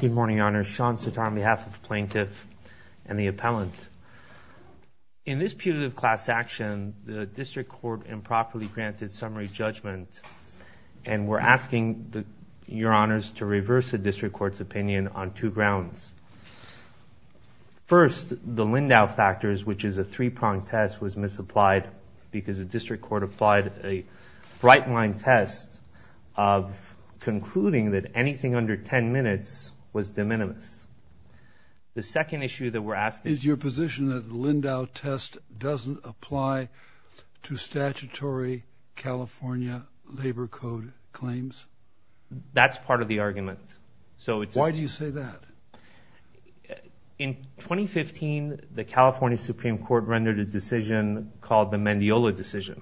Good morning, Your Honors. Sean Sertar on behalf of the Plaintiff and the Appellant. In this putative class action, the District Court improperly granted summary judgment and we're asking Your Honors to reverse the District Court's opinion on two grounds. First, the Lindau factors, which is a three-pronged test, was misapplied because the District Court applied a bright-line test of concluding that anything under 10 minutes was de minimis. The second issue that we're asking- Is your position that the Lindau test doesn't apply to statutory California labor code claims? That's part of the argument. So it's- Why do you say that? In 2015, the California Supreme Court rendered a decision called the Mendiola decision.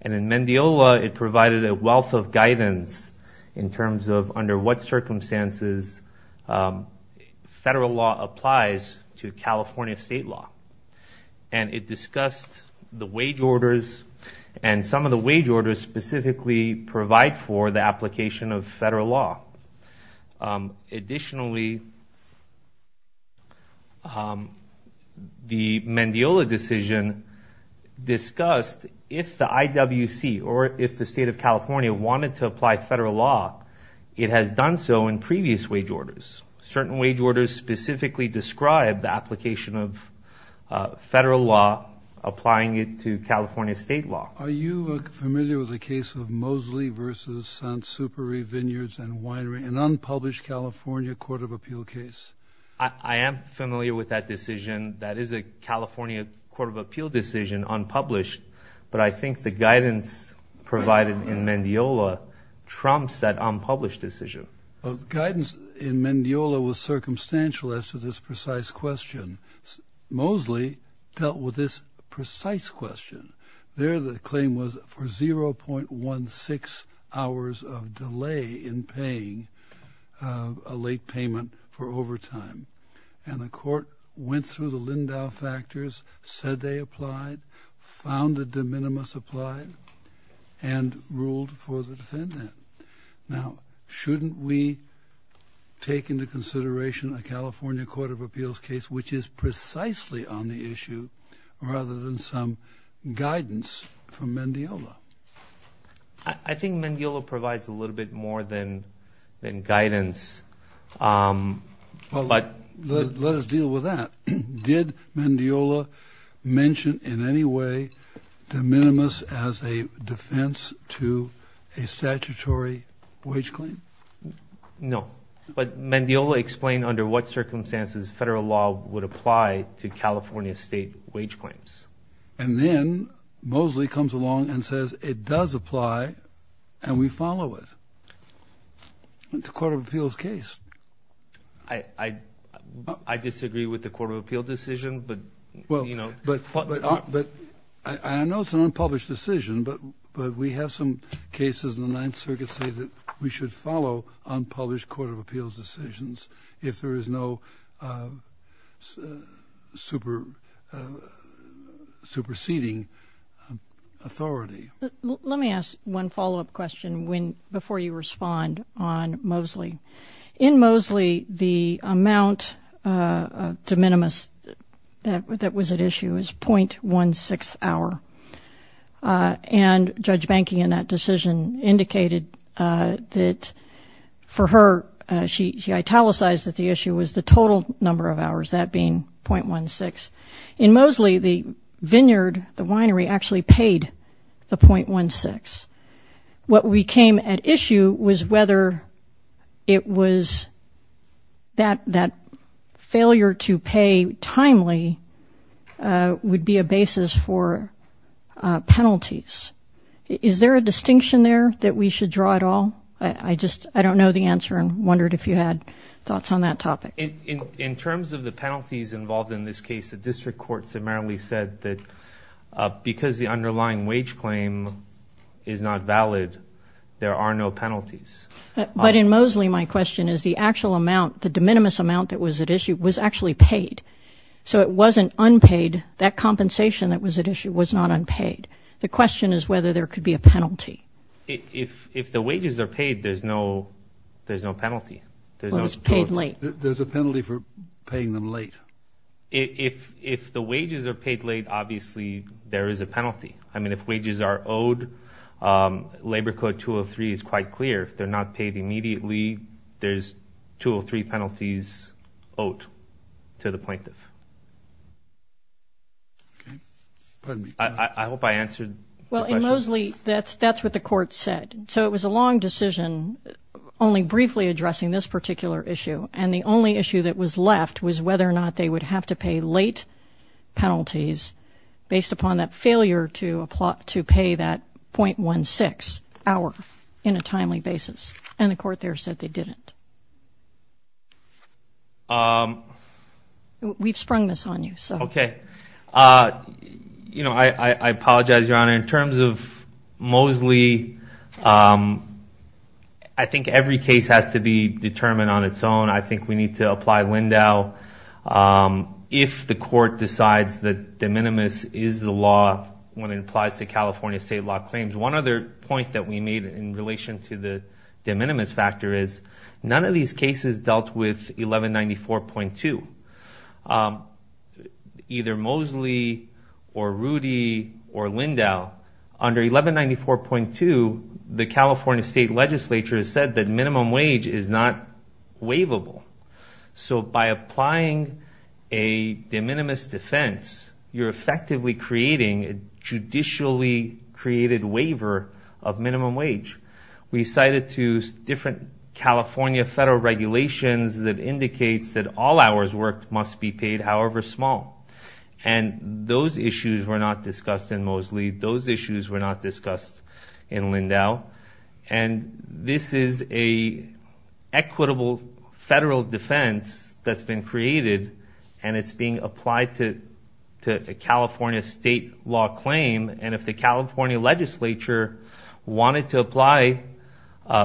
And in Mendiola, it provided a wealth of guidance in terms of under what circumstances federal law applies to California state law. And it discussed the wage orders and some of the wage orders specifically provide for the application of federal law. Additionally, the Mendiola decision discussed if the IWC or if the State of California wanted to apply federal law, it has done so in previous wage orders. Certain wage orders specifically describe the application of federal law applying it to California state law. Are you familiar with the case of Mosley v. Sanssoupery Vineyards and Winery? An unpublished California Court of Appeal case? I am familiar with that decision. That is a California Court of Appeal decision unpublished. But I think the guidance provided in Mendiola trumps that unpublished decision. Guidance in Mendiola was circumstantial as to this precise question. Mosley dealt with this precise question. There the claim was for 0.16 hours of delay in paying a late payment for overtime. And the court went through the Lindau factors, said they applied, found the de minimis applied, and ruled for the defendant. Now, shouldn't we take into consideration a California Court of Appeals case which is precisely on the issue rather than some guidance from Mendiola? I think Mendiola provides a little bit more than guidance. Let us deal with that. Did Mendiola mention in any way de minimis as a defense to a statutory wage claim? No. But Mendiola explained under what circumstances federal law would apply to California state wage claims. And then Mosley comes along and says, it does apply and we follow it. It is a Court of Appeals case. I disagree with the Court of Appeals decision, but you know. I know it is an unpublished decision, but we have some cases in the Ninth Circuit that follow unpublished Court of Appeals decisions if there is no superseding authority. Let me ask one follow-up question before you respond on Mosley. In Mosley, the amount of de minimis that was at issue was 0.16 hour. And Judge Bankey in that decision indicated that for her, she italicized that the issue was the total number of hours, that being 0.16. In Mosley, the vineyard, the winery actually paid the 0.16. What we came at issue was whether it was that failure to pay timely would be a basis for penalties. Is there a corner that we should draw at all? I just, I don't know the answer and wondered if you had thoughts on that topic. In terms of the penalties involved in this case, the district court summarily said that because the underlying wage claim is not valid, there are no penalties. But in Mosley, my question is the actual amount, the de minimis amount that was at issue was actually paid. So it wasn't unpaid. That compensation that was at issue was not unpaid. The question is whether there could be a penalty. If the wages are paid, there's no penalty. There's a penalty for paying them late. If the wages are paid late, obviously there is a penalty. I mean, if wages are owed, Labor Code 203 is quite clear. If they're not paid immediately, there's 203 penalties owed to the plaintiff. I hope I answered the question. Well, in Mosley, that's what the court said. So it was a long decision, only briefly addressing this particular issue. And the only issue that was left was whether or not they would have to pay late penalties based upon that failure to pay that 0.16 hour in a timely basis. And the court there said they didn't. We've sprung this on you, so. Okay. You know, I apologize, Your Honor. In terms of Mosley, I think every case has to be determined on its own. I think we need to apply Lindau. If the court decides that de minimis is the law when it applies to California state law claims. One other point that we made in relation to the de minimis factor is none of these cases dealt with 1194.2. Either Mosley or Rudy or Lindau, under 1194.2, the California state legislature said that minimum wage is not waivable. So by applying a de minimis defense, you're effectively creating a judicially created waiver of minimum wage. We cited two different California federal regulations that indicates that all hours worked must be paid, however small. And those issues were not discussed in Mosley. Those issues were not discussed in Lindau. And this is a equitable federal defense that's been created and it's being applied to a California state law claim. And if the California legislature wanted to apply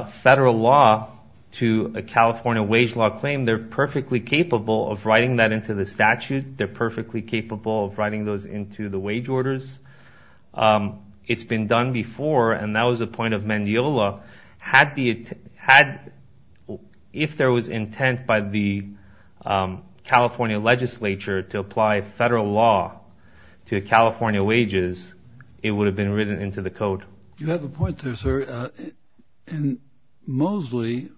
federal law to a California wage law claim, they're perfectly capable of writing that into the statute. They're perfectly capable of writing those into the wage orders. It's been done before and that was the point of Mendiola. Had the, had, if there was intent by the California legislature to apply federal law to California wages, it would have been written into the code. You have a point there, sir. In Mosley,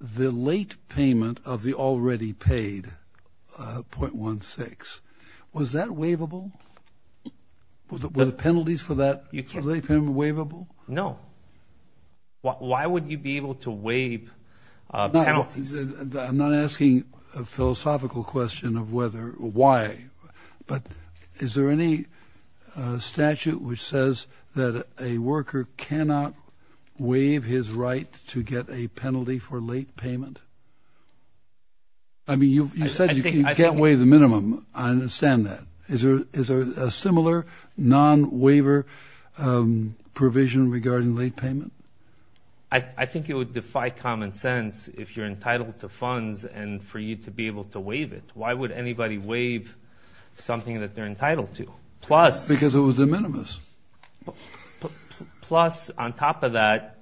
the late payment of the already paid 0.16, was that waivable? Were the penalties for that late payment waivable? No. Why would you be able to waive penalties? I'm not asking a philosophical question of whether, why, but is there any statute which says that a worker cannot waive his right to get a penalty for late payment? I mean, you said you can't waive the minimum. I understand that. Is there a similar non-waiver provision regarding late payment? I think it would defy common sense if you're entitled to funds and for you to be able to waive it. Why would anybody waive something that they're entitled to? Plus. Because it was de minimis. Plus on top of that,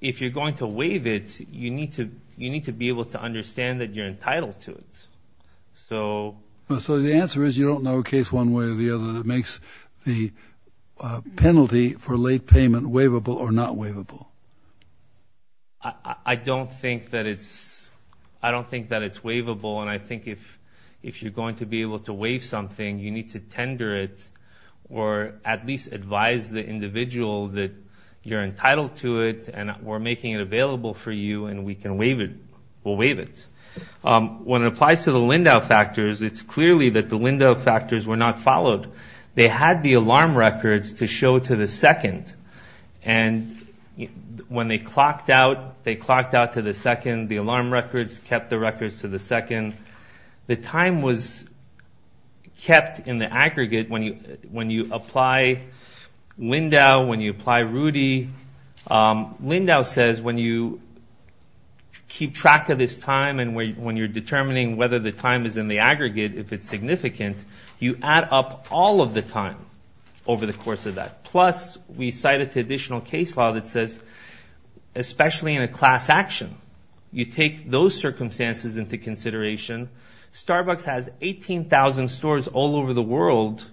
if you're going to waive it, you need to, you need to be able to understand that you're entitled to it. So. So the answer is you don't know a case one way or the other that makes the penalty for late payment waivable or not waivable. I don't think that it's, I don't think that it's waivable. And I think if, if you're going to be able to waive something, you need to tender it or at least advise the individual that you're entitled to it and we're making it available for you and we can waive it. We'll waive it. When it applies to the Lindau factors, it's clearly that the Lindau factors were not followed. They had the alarm records to show to the second. And when they clocked out, they clocked out to the second, the alarm records kept the records to the second. The time was kept in the aggregate when you, when you apply Lindau, when you apply Rudy. Lindau says when you keep track of this time when you're determining whether the time is in the aggregate, if it's significant, you add up all of the time over the course of that. Plus we cited to additional case law that says, especially in a class action, you take those circumstances into consideration. Starbucks has 18,000 stores all over the world.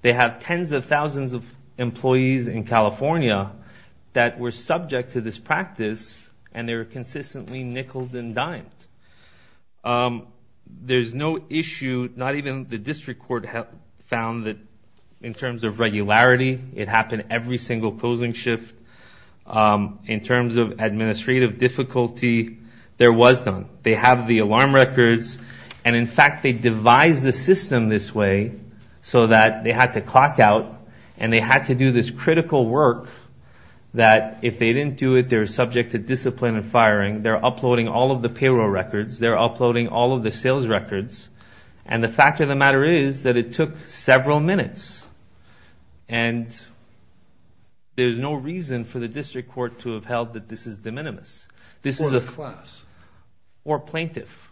They have tens of thousands of employees in that. There's no issue, not even the district court found that in terms of regularity, it happened every single closing shift. In terms of administrative difficulty, there was none. They have the alarm records and in fact, they devised the system this way so that they had to clock out and they had to do this critical work that if they didn't do it, they're subject to discipline and firing. They're uploading all of the payroll records. They're uploading all of the sales records and the fact of the matter is that it took several minutes and there's no reason for the district court to have held that this is de minimis. This is a class or plaintiff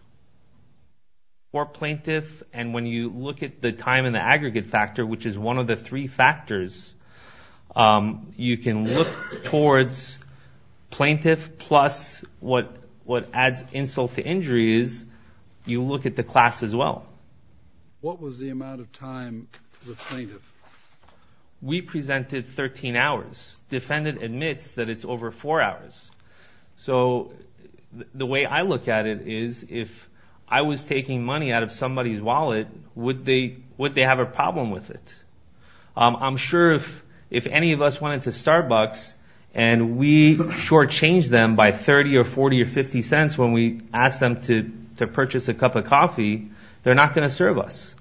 or plaintiff and when you look at the time in the aggregate factor, which is one of the three factors, you can look towards plaintiff plus what adds insult to injury is you look at the class as well. What was the amount of time for the plaintiff? We presented 13 hours. Defendant admits that it's over four hours. So the way I look at it is if I was taking money out of somebody's wallet, would they have a problem with it? I'm sure if any of us went into Starbucks and we shortchange them by 30 or 40 or 50 cents when we ask them to purchase a cup of coffee, they're not going to serve us.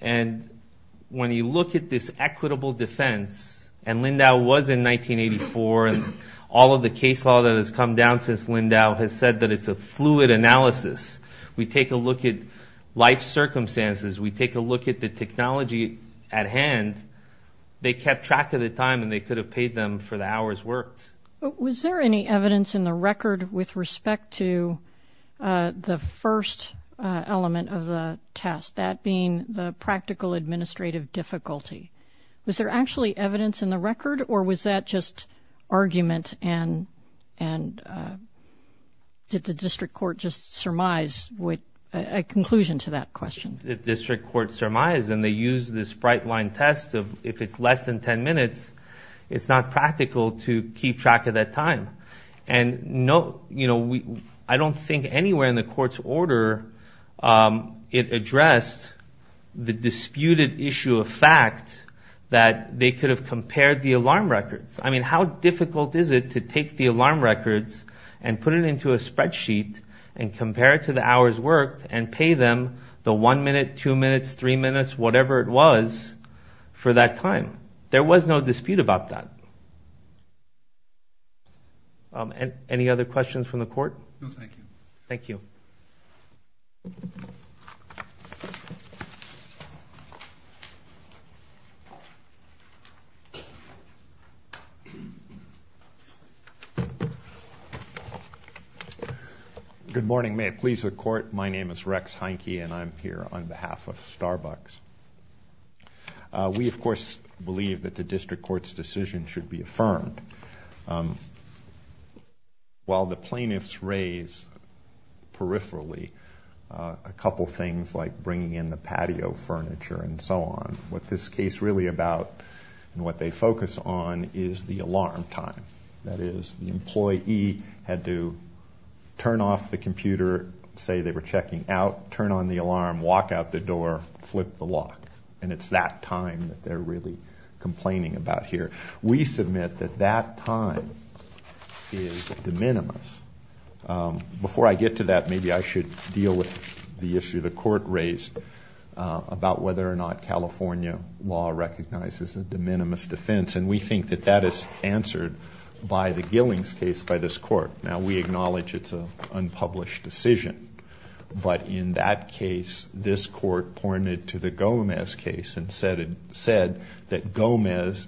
And when you look at this equitable defense and Lindau was in 1984 and all of the case law that has come down since Lindau has said that it's a fluid analysis. We take a look at life circumstances. We take a look at the technology at hand. They kept track of the time and they could have paid them for the hours worked. Was there any evidence in the record with respect to the first element of the test, that being the practical administrative difficulty? Was there actually evidence in the record or was that just argument and did the district court just surmise with a conclusion to that question? The district court surmised and they used this bright line test of if it's less than 10 minutes, it's not practical to keep track of that time. I don't think anywhere in the court's order it addressed the disputed issue of fact that they could have compared the alarm records. I mean, how difficult is it to take the alarm records and put it into a spreadsheet and compare it to the hours worked and pay them the one minute, two minutes, three minutes, whatever it was for that time. There was no dispute about that. Any other questions from the court? No, thank you. Thank you. Good morning. May it please the court. My name is Rex Heineke and I'm here on behalf of Starbucks. We, of course, believe that the district court's decision should be affirmed. While the plaintiffs raise peripherally a couple things like bringing in the patio furniture and so on, what this case is really about and what they focus on is the alarm time. That is, the employee had to turn off the computer, say they were checking out, turn on the alarm, walk out the door, flip the lock, and it's that time that they're really complaining about here. We submit that that time is de minimis. Before I get to that, maybe I should deal with the issue the court raised about whether or not California law recognizes a de minimis defense, and we think that that is answered by the Gillings case by this court. Now, we acknowledge it's an unpublished decision, but in that case, this court pointed to the Gomez case and said that Gomez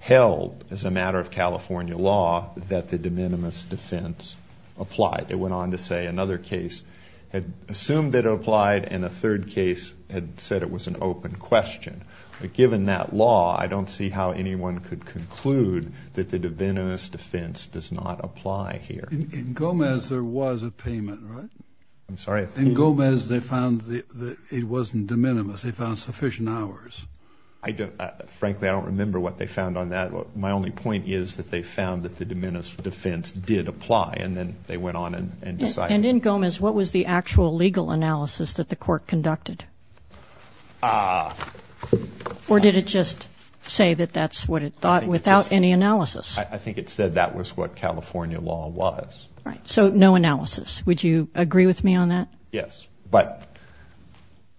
held, as a matter of California law, that the de minimis defense applied. It went on to say another case had assumed it had said it was an open question, but given that law, I don't see how anyone could conclude that the de minimis defense does not apply here. In Gomez, there was a payment, right? I'm sorry? In Gomez, they found that it wasn't de minimis. They found sufficient hours. I don't, frankly, I don't remember what they found on that. My only point is that they found that the de minimis defense did apply, and then they went on and decided. And in Gomez, what was the actual legal analysis that the court conducted? Or did it just say that that's what it thought without any analysis? I think it said that was what California law was. Right, so no analysis. Would you agree with me on that? Yes, but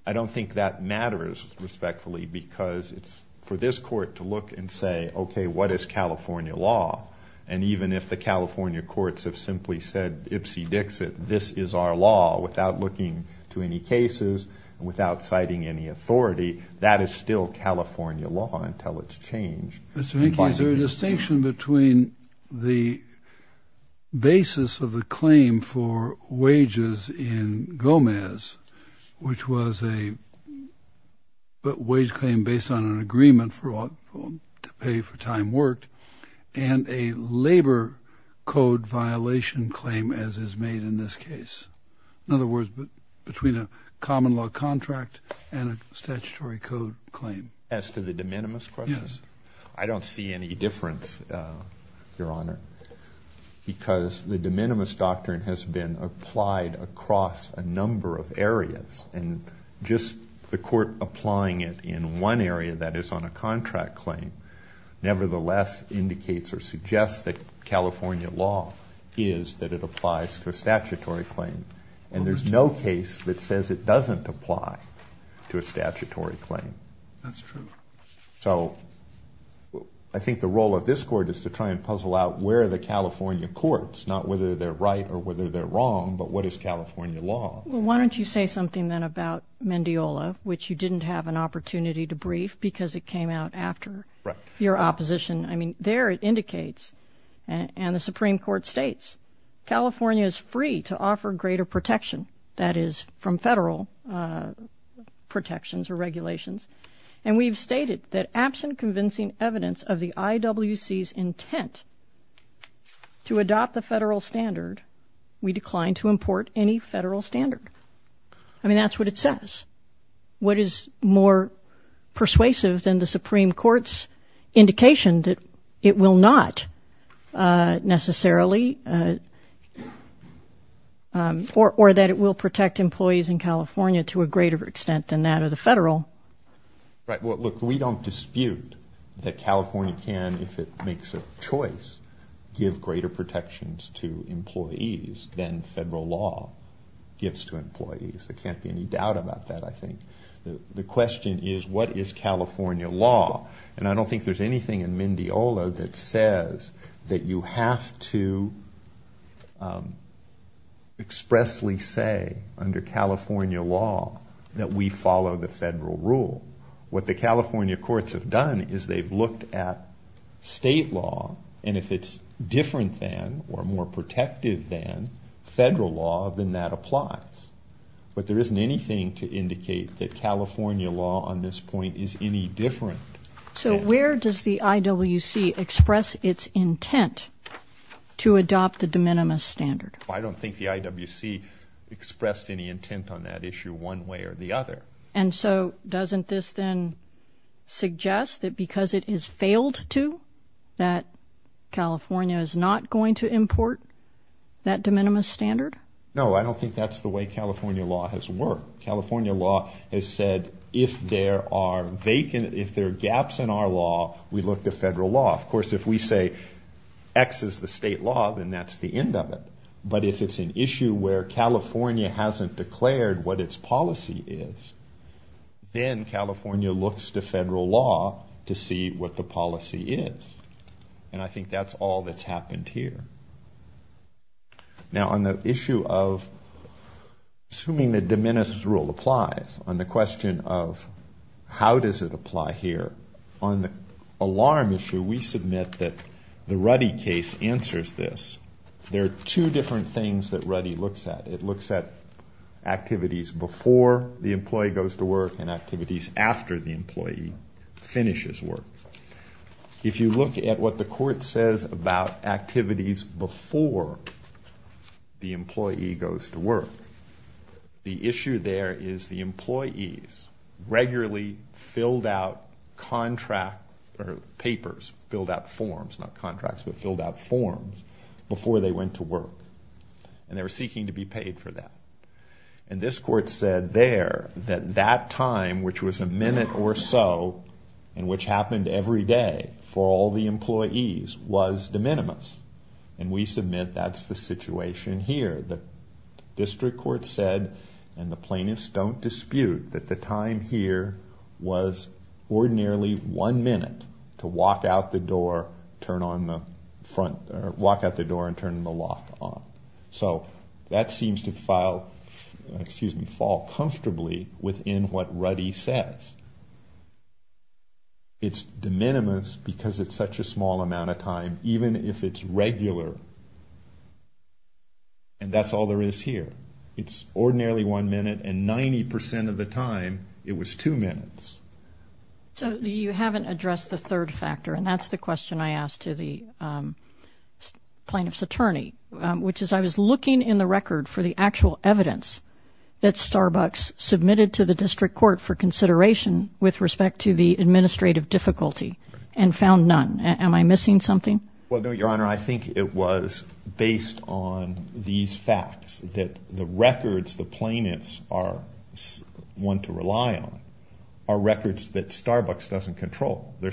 I don't think that matters, respectfully, because it's for this court to look and say, okay, what is California law? And even if the California courts have simply said, ipsy dixit, this is our law, without looking to any cases, without citing any authority, that is still California law until it's changed. Mr. Hickey, is there a distinction between the basis of the claim for wages in Gomez, which was a wage claim based on an agreement for to pay for time worked, and a labor code violation claim as is made in this case? In other words, between a common law contract and a statutory code claim. As to the de minimis questions, I don't see any difference, Your Honor, because the de minimis doctrine has been applied across a number of areas, and just the court applying it in one area that is on a contract claim nevertheless indicates or suggests that California law is that it applies to a statutory claim. And there's no case that says it doesn't apply to a statutory claim. That's true. So I think the role of this court is to try and puzzle out where the California courts, not whether they're right or whether they're wrong, but what is California law? Why don't you say something then about Mendiola, which you didn't have an opportunity to brief because it came out after your opposition. I mean, there it indicates, and the Supreme Court states, California is free to offer greater protection, that is from federal protections or regulations. And we've stated that absent convincing evidence of the IWC's intent to adopt the federal standard, we decline to import any federal standard. I mean, that's what it says. What is more persuasive than the Supreme Court's indication that it will not necessarily, or that it will protect employees in California to a greater extent than that of the federal? Right. Well, look, we don't dispute that California can, if it makes a choice, give greater protections to employees than federal law gives to employees. There can't be any doubt about that, I think. The question is, what is California law? And I don't think there's anything in Mendiola that says that you have to expressly say under California law that we follow the federal rule. What the California courts have done is they've looked at state law, and if it's different than or more protective than federal law, then that applies. But there isn't anything to indicate that California law on this point is any different. So where does the IWC express its intent to adopt the de minimis standard? I don't think the IWC expressed any intent on that issue one way or the other. And so doesn't this then suggest that because it has failed to, that California is not going to import that de minimis standard? No, I don't think that's the way California law has worked. California law has said, if there are gaps in our law, we look to federal law. Of course, if we say X is the state law, then that's the end of it. But if it's an issue where California hasn't declared what its policy is, then California looks to federal law to see what the policy is. And I think that's all that's happened here. Now, on the issue of assuming the de minimis rule applies, on the question of how does it apply here, on the alarm issue, we submit that the Ruddy case answers this. There are two different things that Ruddy looks at. It looks at activities before the employee goes to work and activities after the employee finishes work. If you look at what the court says about activities before the employee goes to work, the issue there is the employees regularly filled out contract, or papers, filled out forms, not contracts, but filled out forms before they went to work. And they were seeking to be paid for that. And this court said there that that time, which was a minute or so, and which happened every day for all the employees, was de minimis. And we submit that's the situation here. The District Court said, and the plaintiffs don't dispute, that the time here was ordinarily one minute to walk out the door and turn the lock on. So that seems to fall comfortably within what Ruddy says. It's de minimis because it's such a small amount of time, even if it's regular. And that's all there is here. It's ordinarily one minute, and 90 percent of the time, it was two minutes. So you haven't addressed the third factor, and that's the question I asked to the plaintiff's attorney, which is, I was looking in the record for the actual evidence that Starbucks submitted to the District Court for consideration with respect to the administrative difficulty and found none. Am I missing something? Well, no, Your Honor. I think it was. Based on these facts, that the records the plaintiffs want to rely on are records that Starbucks doesn't control. They're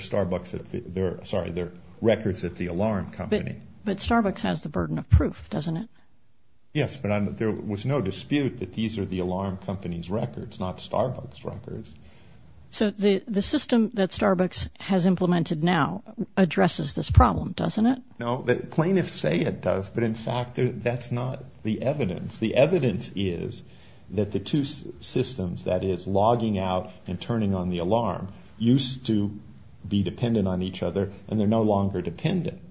records at the alarm company. But Starbucks has the burden of proof, doesn't it? Yes, but there was no dispute that these are the alarm company's records, not Starbucks' records. So the system that Starbucks has implemented now addresses this but in fact, that's not the evidence. The evidence is that the two systems, that is, logging out and turning on the alarm, used to be dependent on each other and they're no longer dependent.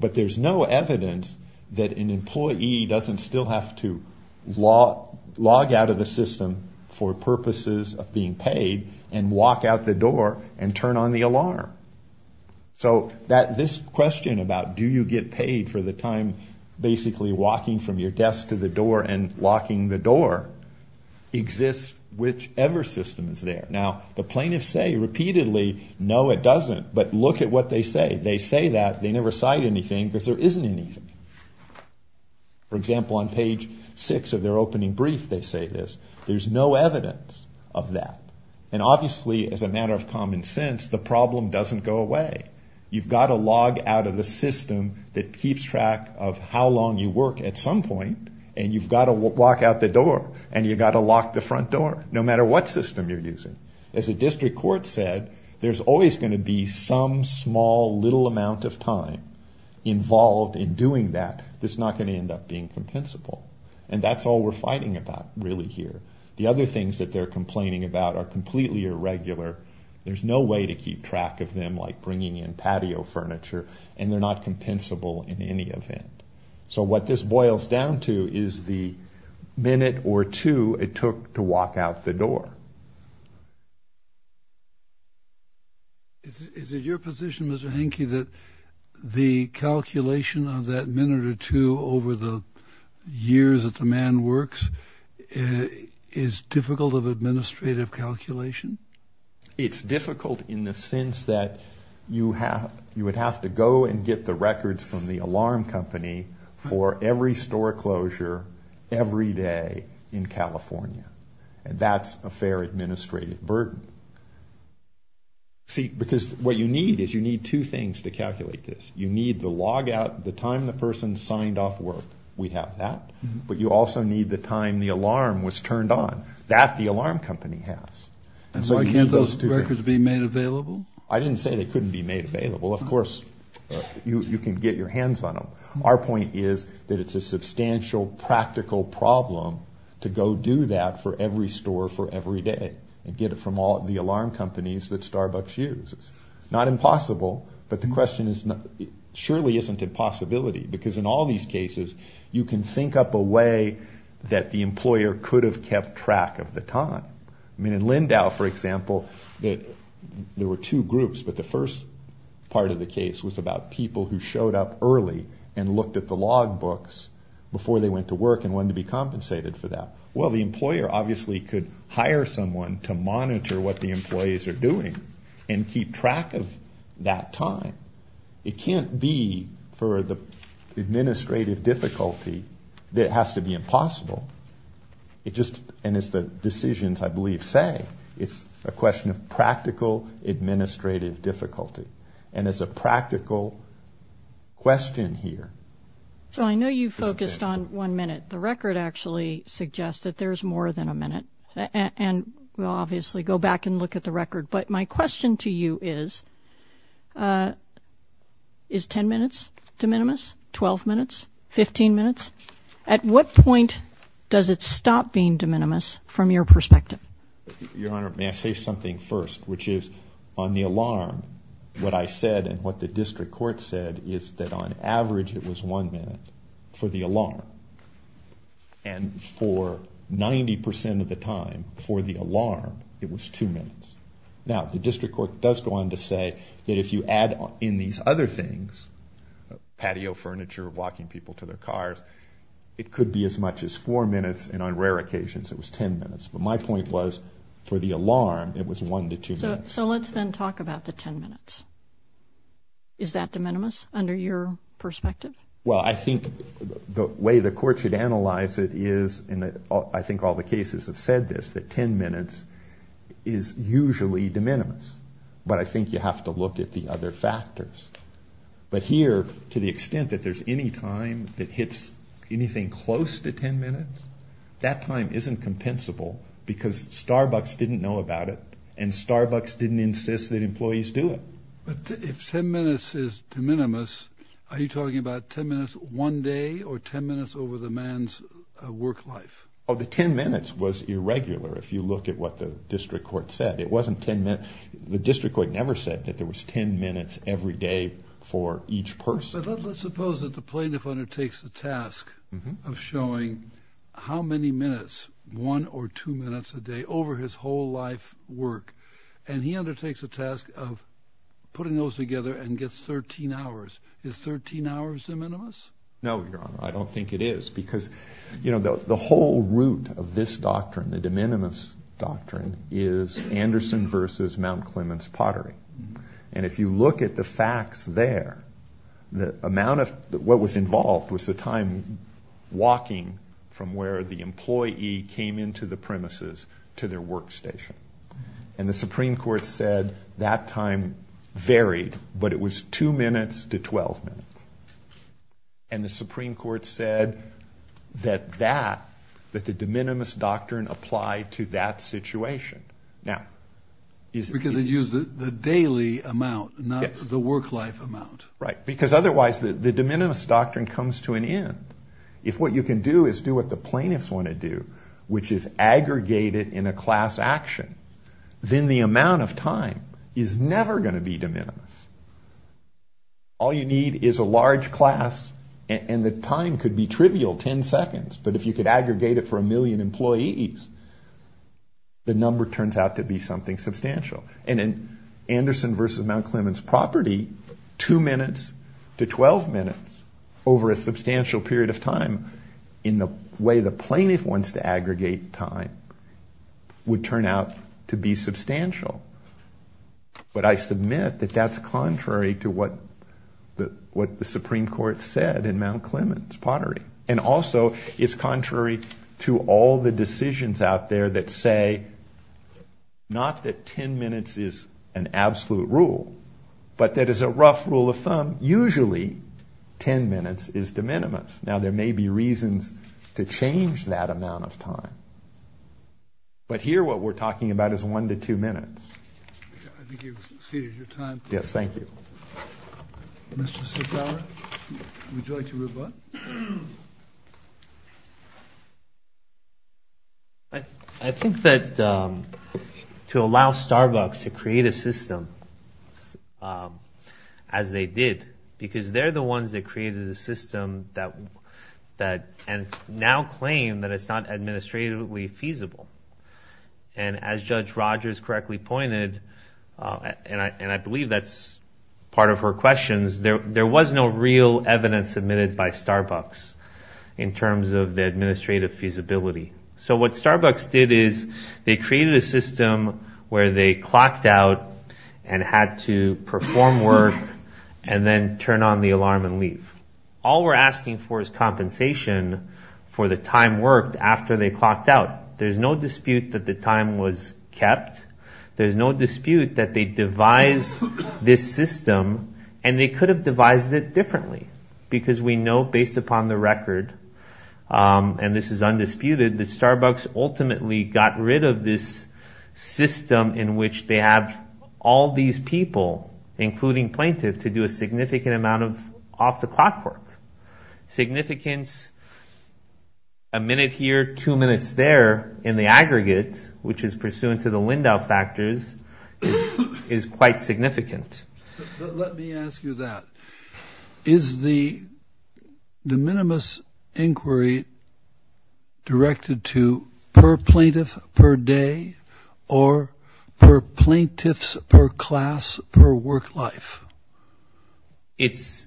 But there's no evidence that an employee doesn't still have to log out of the system for purposes of being paid and walk out the door and turn on the alarm. So this question about do you get paid for the time basically walking from your desk to the door and locking the door exists whichever system is there. Now, the plaintiffs say repeatedly, no, it doesn't. But look at what they say. They say that. They never cite anything because there isn't anything. For example, on page six of their opening brief, they say this. There's no evidence of that. And keeps track of how long you work at some point and you've got to walk out the door and you've got to lock the front door no matter what system you're using. As a district court said, there's always going to be some small little amount of time involved in doing that that's not going to end up being compensable. And that's all we're fighting about really here. The other things that they're complaining about are completely irregular. There's no way to keep track of them like bringing in patio furniture and they're not compensable in any event. So what this boils down to is the minute or two it took to walk out the door. Is it your position, Mr. Henke, that the calculation of that minute or two over the years that the man works is difficult of administrative calculation? It's difficult in the sense that you would have to go and get the records from the alarm company for every store closure every day in California. And that's a fair administrative burden. See, because what you need is you need two things to calculate this. You need the logout, the time the person signed off work. We have that. But you also need the time the alarm was turned on. That alarm company has. And why can't those records be made available? I didn't say they couldn't be made available. Of course you can get your hands on them. Our point is that it's a substantial practical problem to go do that for every store for every day and get it from all the alarm companies that Starbucks uses. It's not impossible, but the question is surely isn't it possibility? Because in all these cases you can think up a way that the employer could have kept track of the time. I mean in Lindau, for example, there were two groups, but the first part of the case was about people who showed up early and looked at the log books before they went to work and wanted to be compensated for that. Well, the employer obviously could hire someone to monitor what the employees are doing and keep track of that time. It can't be for the administrative difficulty that it has to be impossible. It just, and as the decisions I believe say, it's a question of practical administrative difficulty. And as a practical question here. So I know you focused on one minute. The record actually suggests that there's more than a minute. And we'll obviously go back and look at the record. But my question to you is, is 10 minutes de minimis? 12 minutes? 15 minutes? At what point does it stop being de minimis from your perspective? Your Honor, may I say something first, which is on the alarm, what I said and what the district court said is that on average it was one minute for the alarm. And for 90% of the time for the alarm, it was two minutes. Now the district court does go on to say that if you add in these other things, patio furniture, walking people to their cars, it could be as much as four minutes. And on rare occasions it was 10 minutes. But my point was for the alarm, it was one to two minutes. So let's then talk about the 10 minutes. Is that de minimis under your perspective? Well, I think the way the court should analyze it is, and I think all the cases have said this, that 10 minutes is usually de minimis. But I think you have to look at the other factors. But here, to the extent that there's any time that hits anything close to 10 minutes, that time isn't compensable because Starbucks didn't know about it and Starbucks didn't insist that employees do it. But if 10 minutes is de minimis, are you talking about 10 minutes one day or 10 minutes over the man's work life? Oh, the 10 minutes was irregular. If you look at what the district court said, it wasn't 10 minutes. The district court never said that there was 10 minutes every day for each person. But let's suppose that the plaintiff undertakes the task of showing how many minutes, one or two minutes a day, over his whole life work. And he undertakes the task of putting those together and gets 13 hours. Is 13 hours de minimis? No, Your Honor, I don't think it is. Because the whole root of this doctrine, the de minimis doctrine, is Anderson versus Mount Clements pottery. And if you look at the facts there, the amount of what was involved was the time walking from where the employee came into the premises to their workstation. And the Supreme Court said that time varied, but it was 2 minutes to 12 minutes. And the Supreme Court said that the de minimis doctrine applied to that situation. Because it used the daily amount, not the work life amount. Right, because otherwise the de minimis doctrine comes to an end. If what you can do is do what the plaintiffs want to do, which is aggregate it in a class action, then the amount of time is never going to be de minimis. All you need is a large class and the time could be trivial, 10 seconds, but if you could aggregate it for a million employees, the number turns out to be something substantial. And in Anderson versus Mount Clements property, 2 minutes to 12 minutes over a substantial period of time, in the way the plaintiff wants to aggregate time, would turn out to be substantial. But I submit that that's contrary to what the Supreme Court said in Mount Clements Pottery. And also it's contrary to all the decisions out there that say, not that 10 minutes is an absolute rule, but that is a rough rule of thumb, usually 10 minutes is de minimis. Now there may be reasons to change that amount of time. But here what we're talking about is 1 to 2 minutes. I think you've exceeded your time. Yes, thank you. Mr. Sitara, would you like to rebut? I think that to allow Starbucks to create a system as they did, because they're the ones that created the system that now claim that it's not administratively feasible. And as Judge Rogers correctly pointed, and I believe that's part of her questions, there was no real evidence submitted by Starbucks in terms of the administrative feasibility. So what Starbucks did is they created a system where they clocked out and had to perform work and then turn on the alarm and leave. All we're asking for is compensation for the time worked after they clocked out. There's no dispute that the time was kept. There's no dispute that they devised this system and they could have devised it differently. Because we know based upon the record, and this is undisputed, that Starbucks ultimately got rid of this system in which they have all these people, including plaintiff, to do a significant amount of off-the-clock work. Significance, a minute here, two minutes there, in the aggregate, which is pursuant to the Lindau factors, is quite significant. Let me ask you that. Is the de minimis inquiry directed to per plaintiff per day or per plaintiffs per class per work life? It's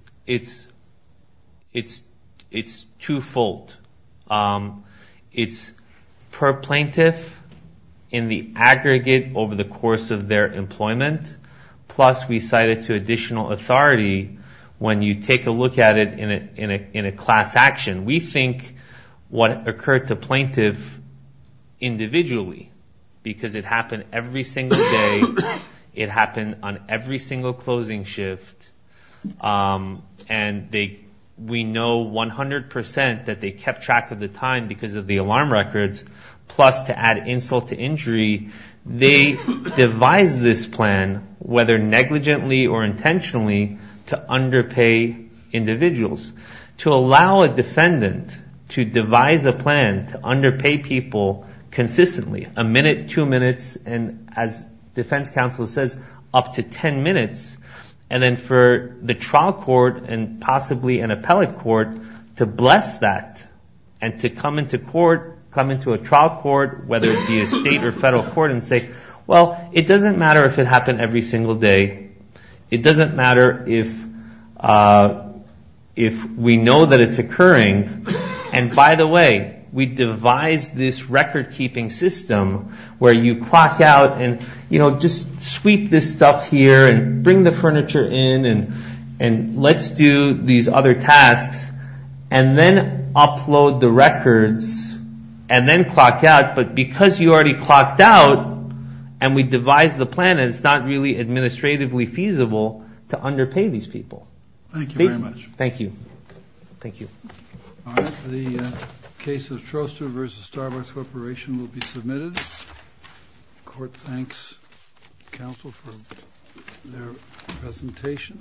twofold. It's per plaintiff in the aggregate over the course of their employment, plus we cite it to additional authority when you take a look at it in a class action. We think what occurred to plaintiff individually, because it happened every single day, it happened on every single closing shift, and we know 100% that they kept track of the time because of the alarm records, plus to add insult to injury, they devised this plan, whether negligently or intentionally, to underpay individuals. To allow a defendant to devise a plan to underpay people consistently, a minute, two minutes, and as defense counsel says, up to 10 minutes, and then for the trial court and possibly an appellate court to bless that and to come into court, come into a trial court, whether it be a state or federal court, and say, well, it doesn't matter if it happened every single day. It doesn't matter if we know that it's occurring, and by the way, we devised this record-keeping system where you clock out and, you know, just sweep this stuff here and bring the furniture in and let's do these other tasks, and then upload the records, and then clock out, but because you already clocked out and we devised the plan, it's not really administratively feasible to underpay these people. Thank you very much. Thank you. Thank you. All right. The case of Troster versus Starbucks Corporation will be submitted. Court thanks counsel for their presentation.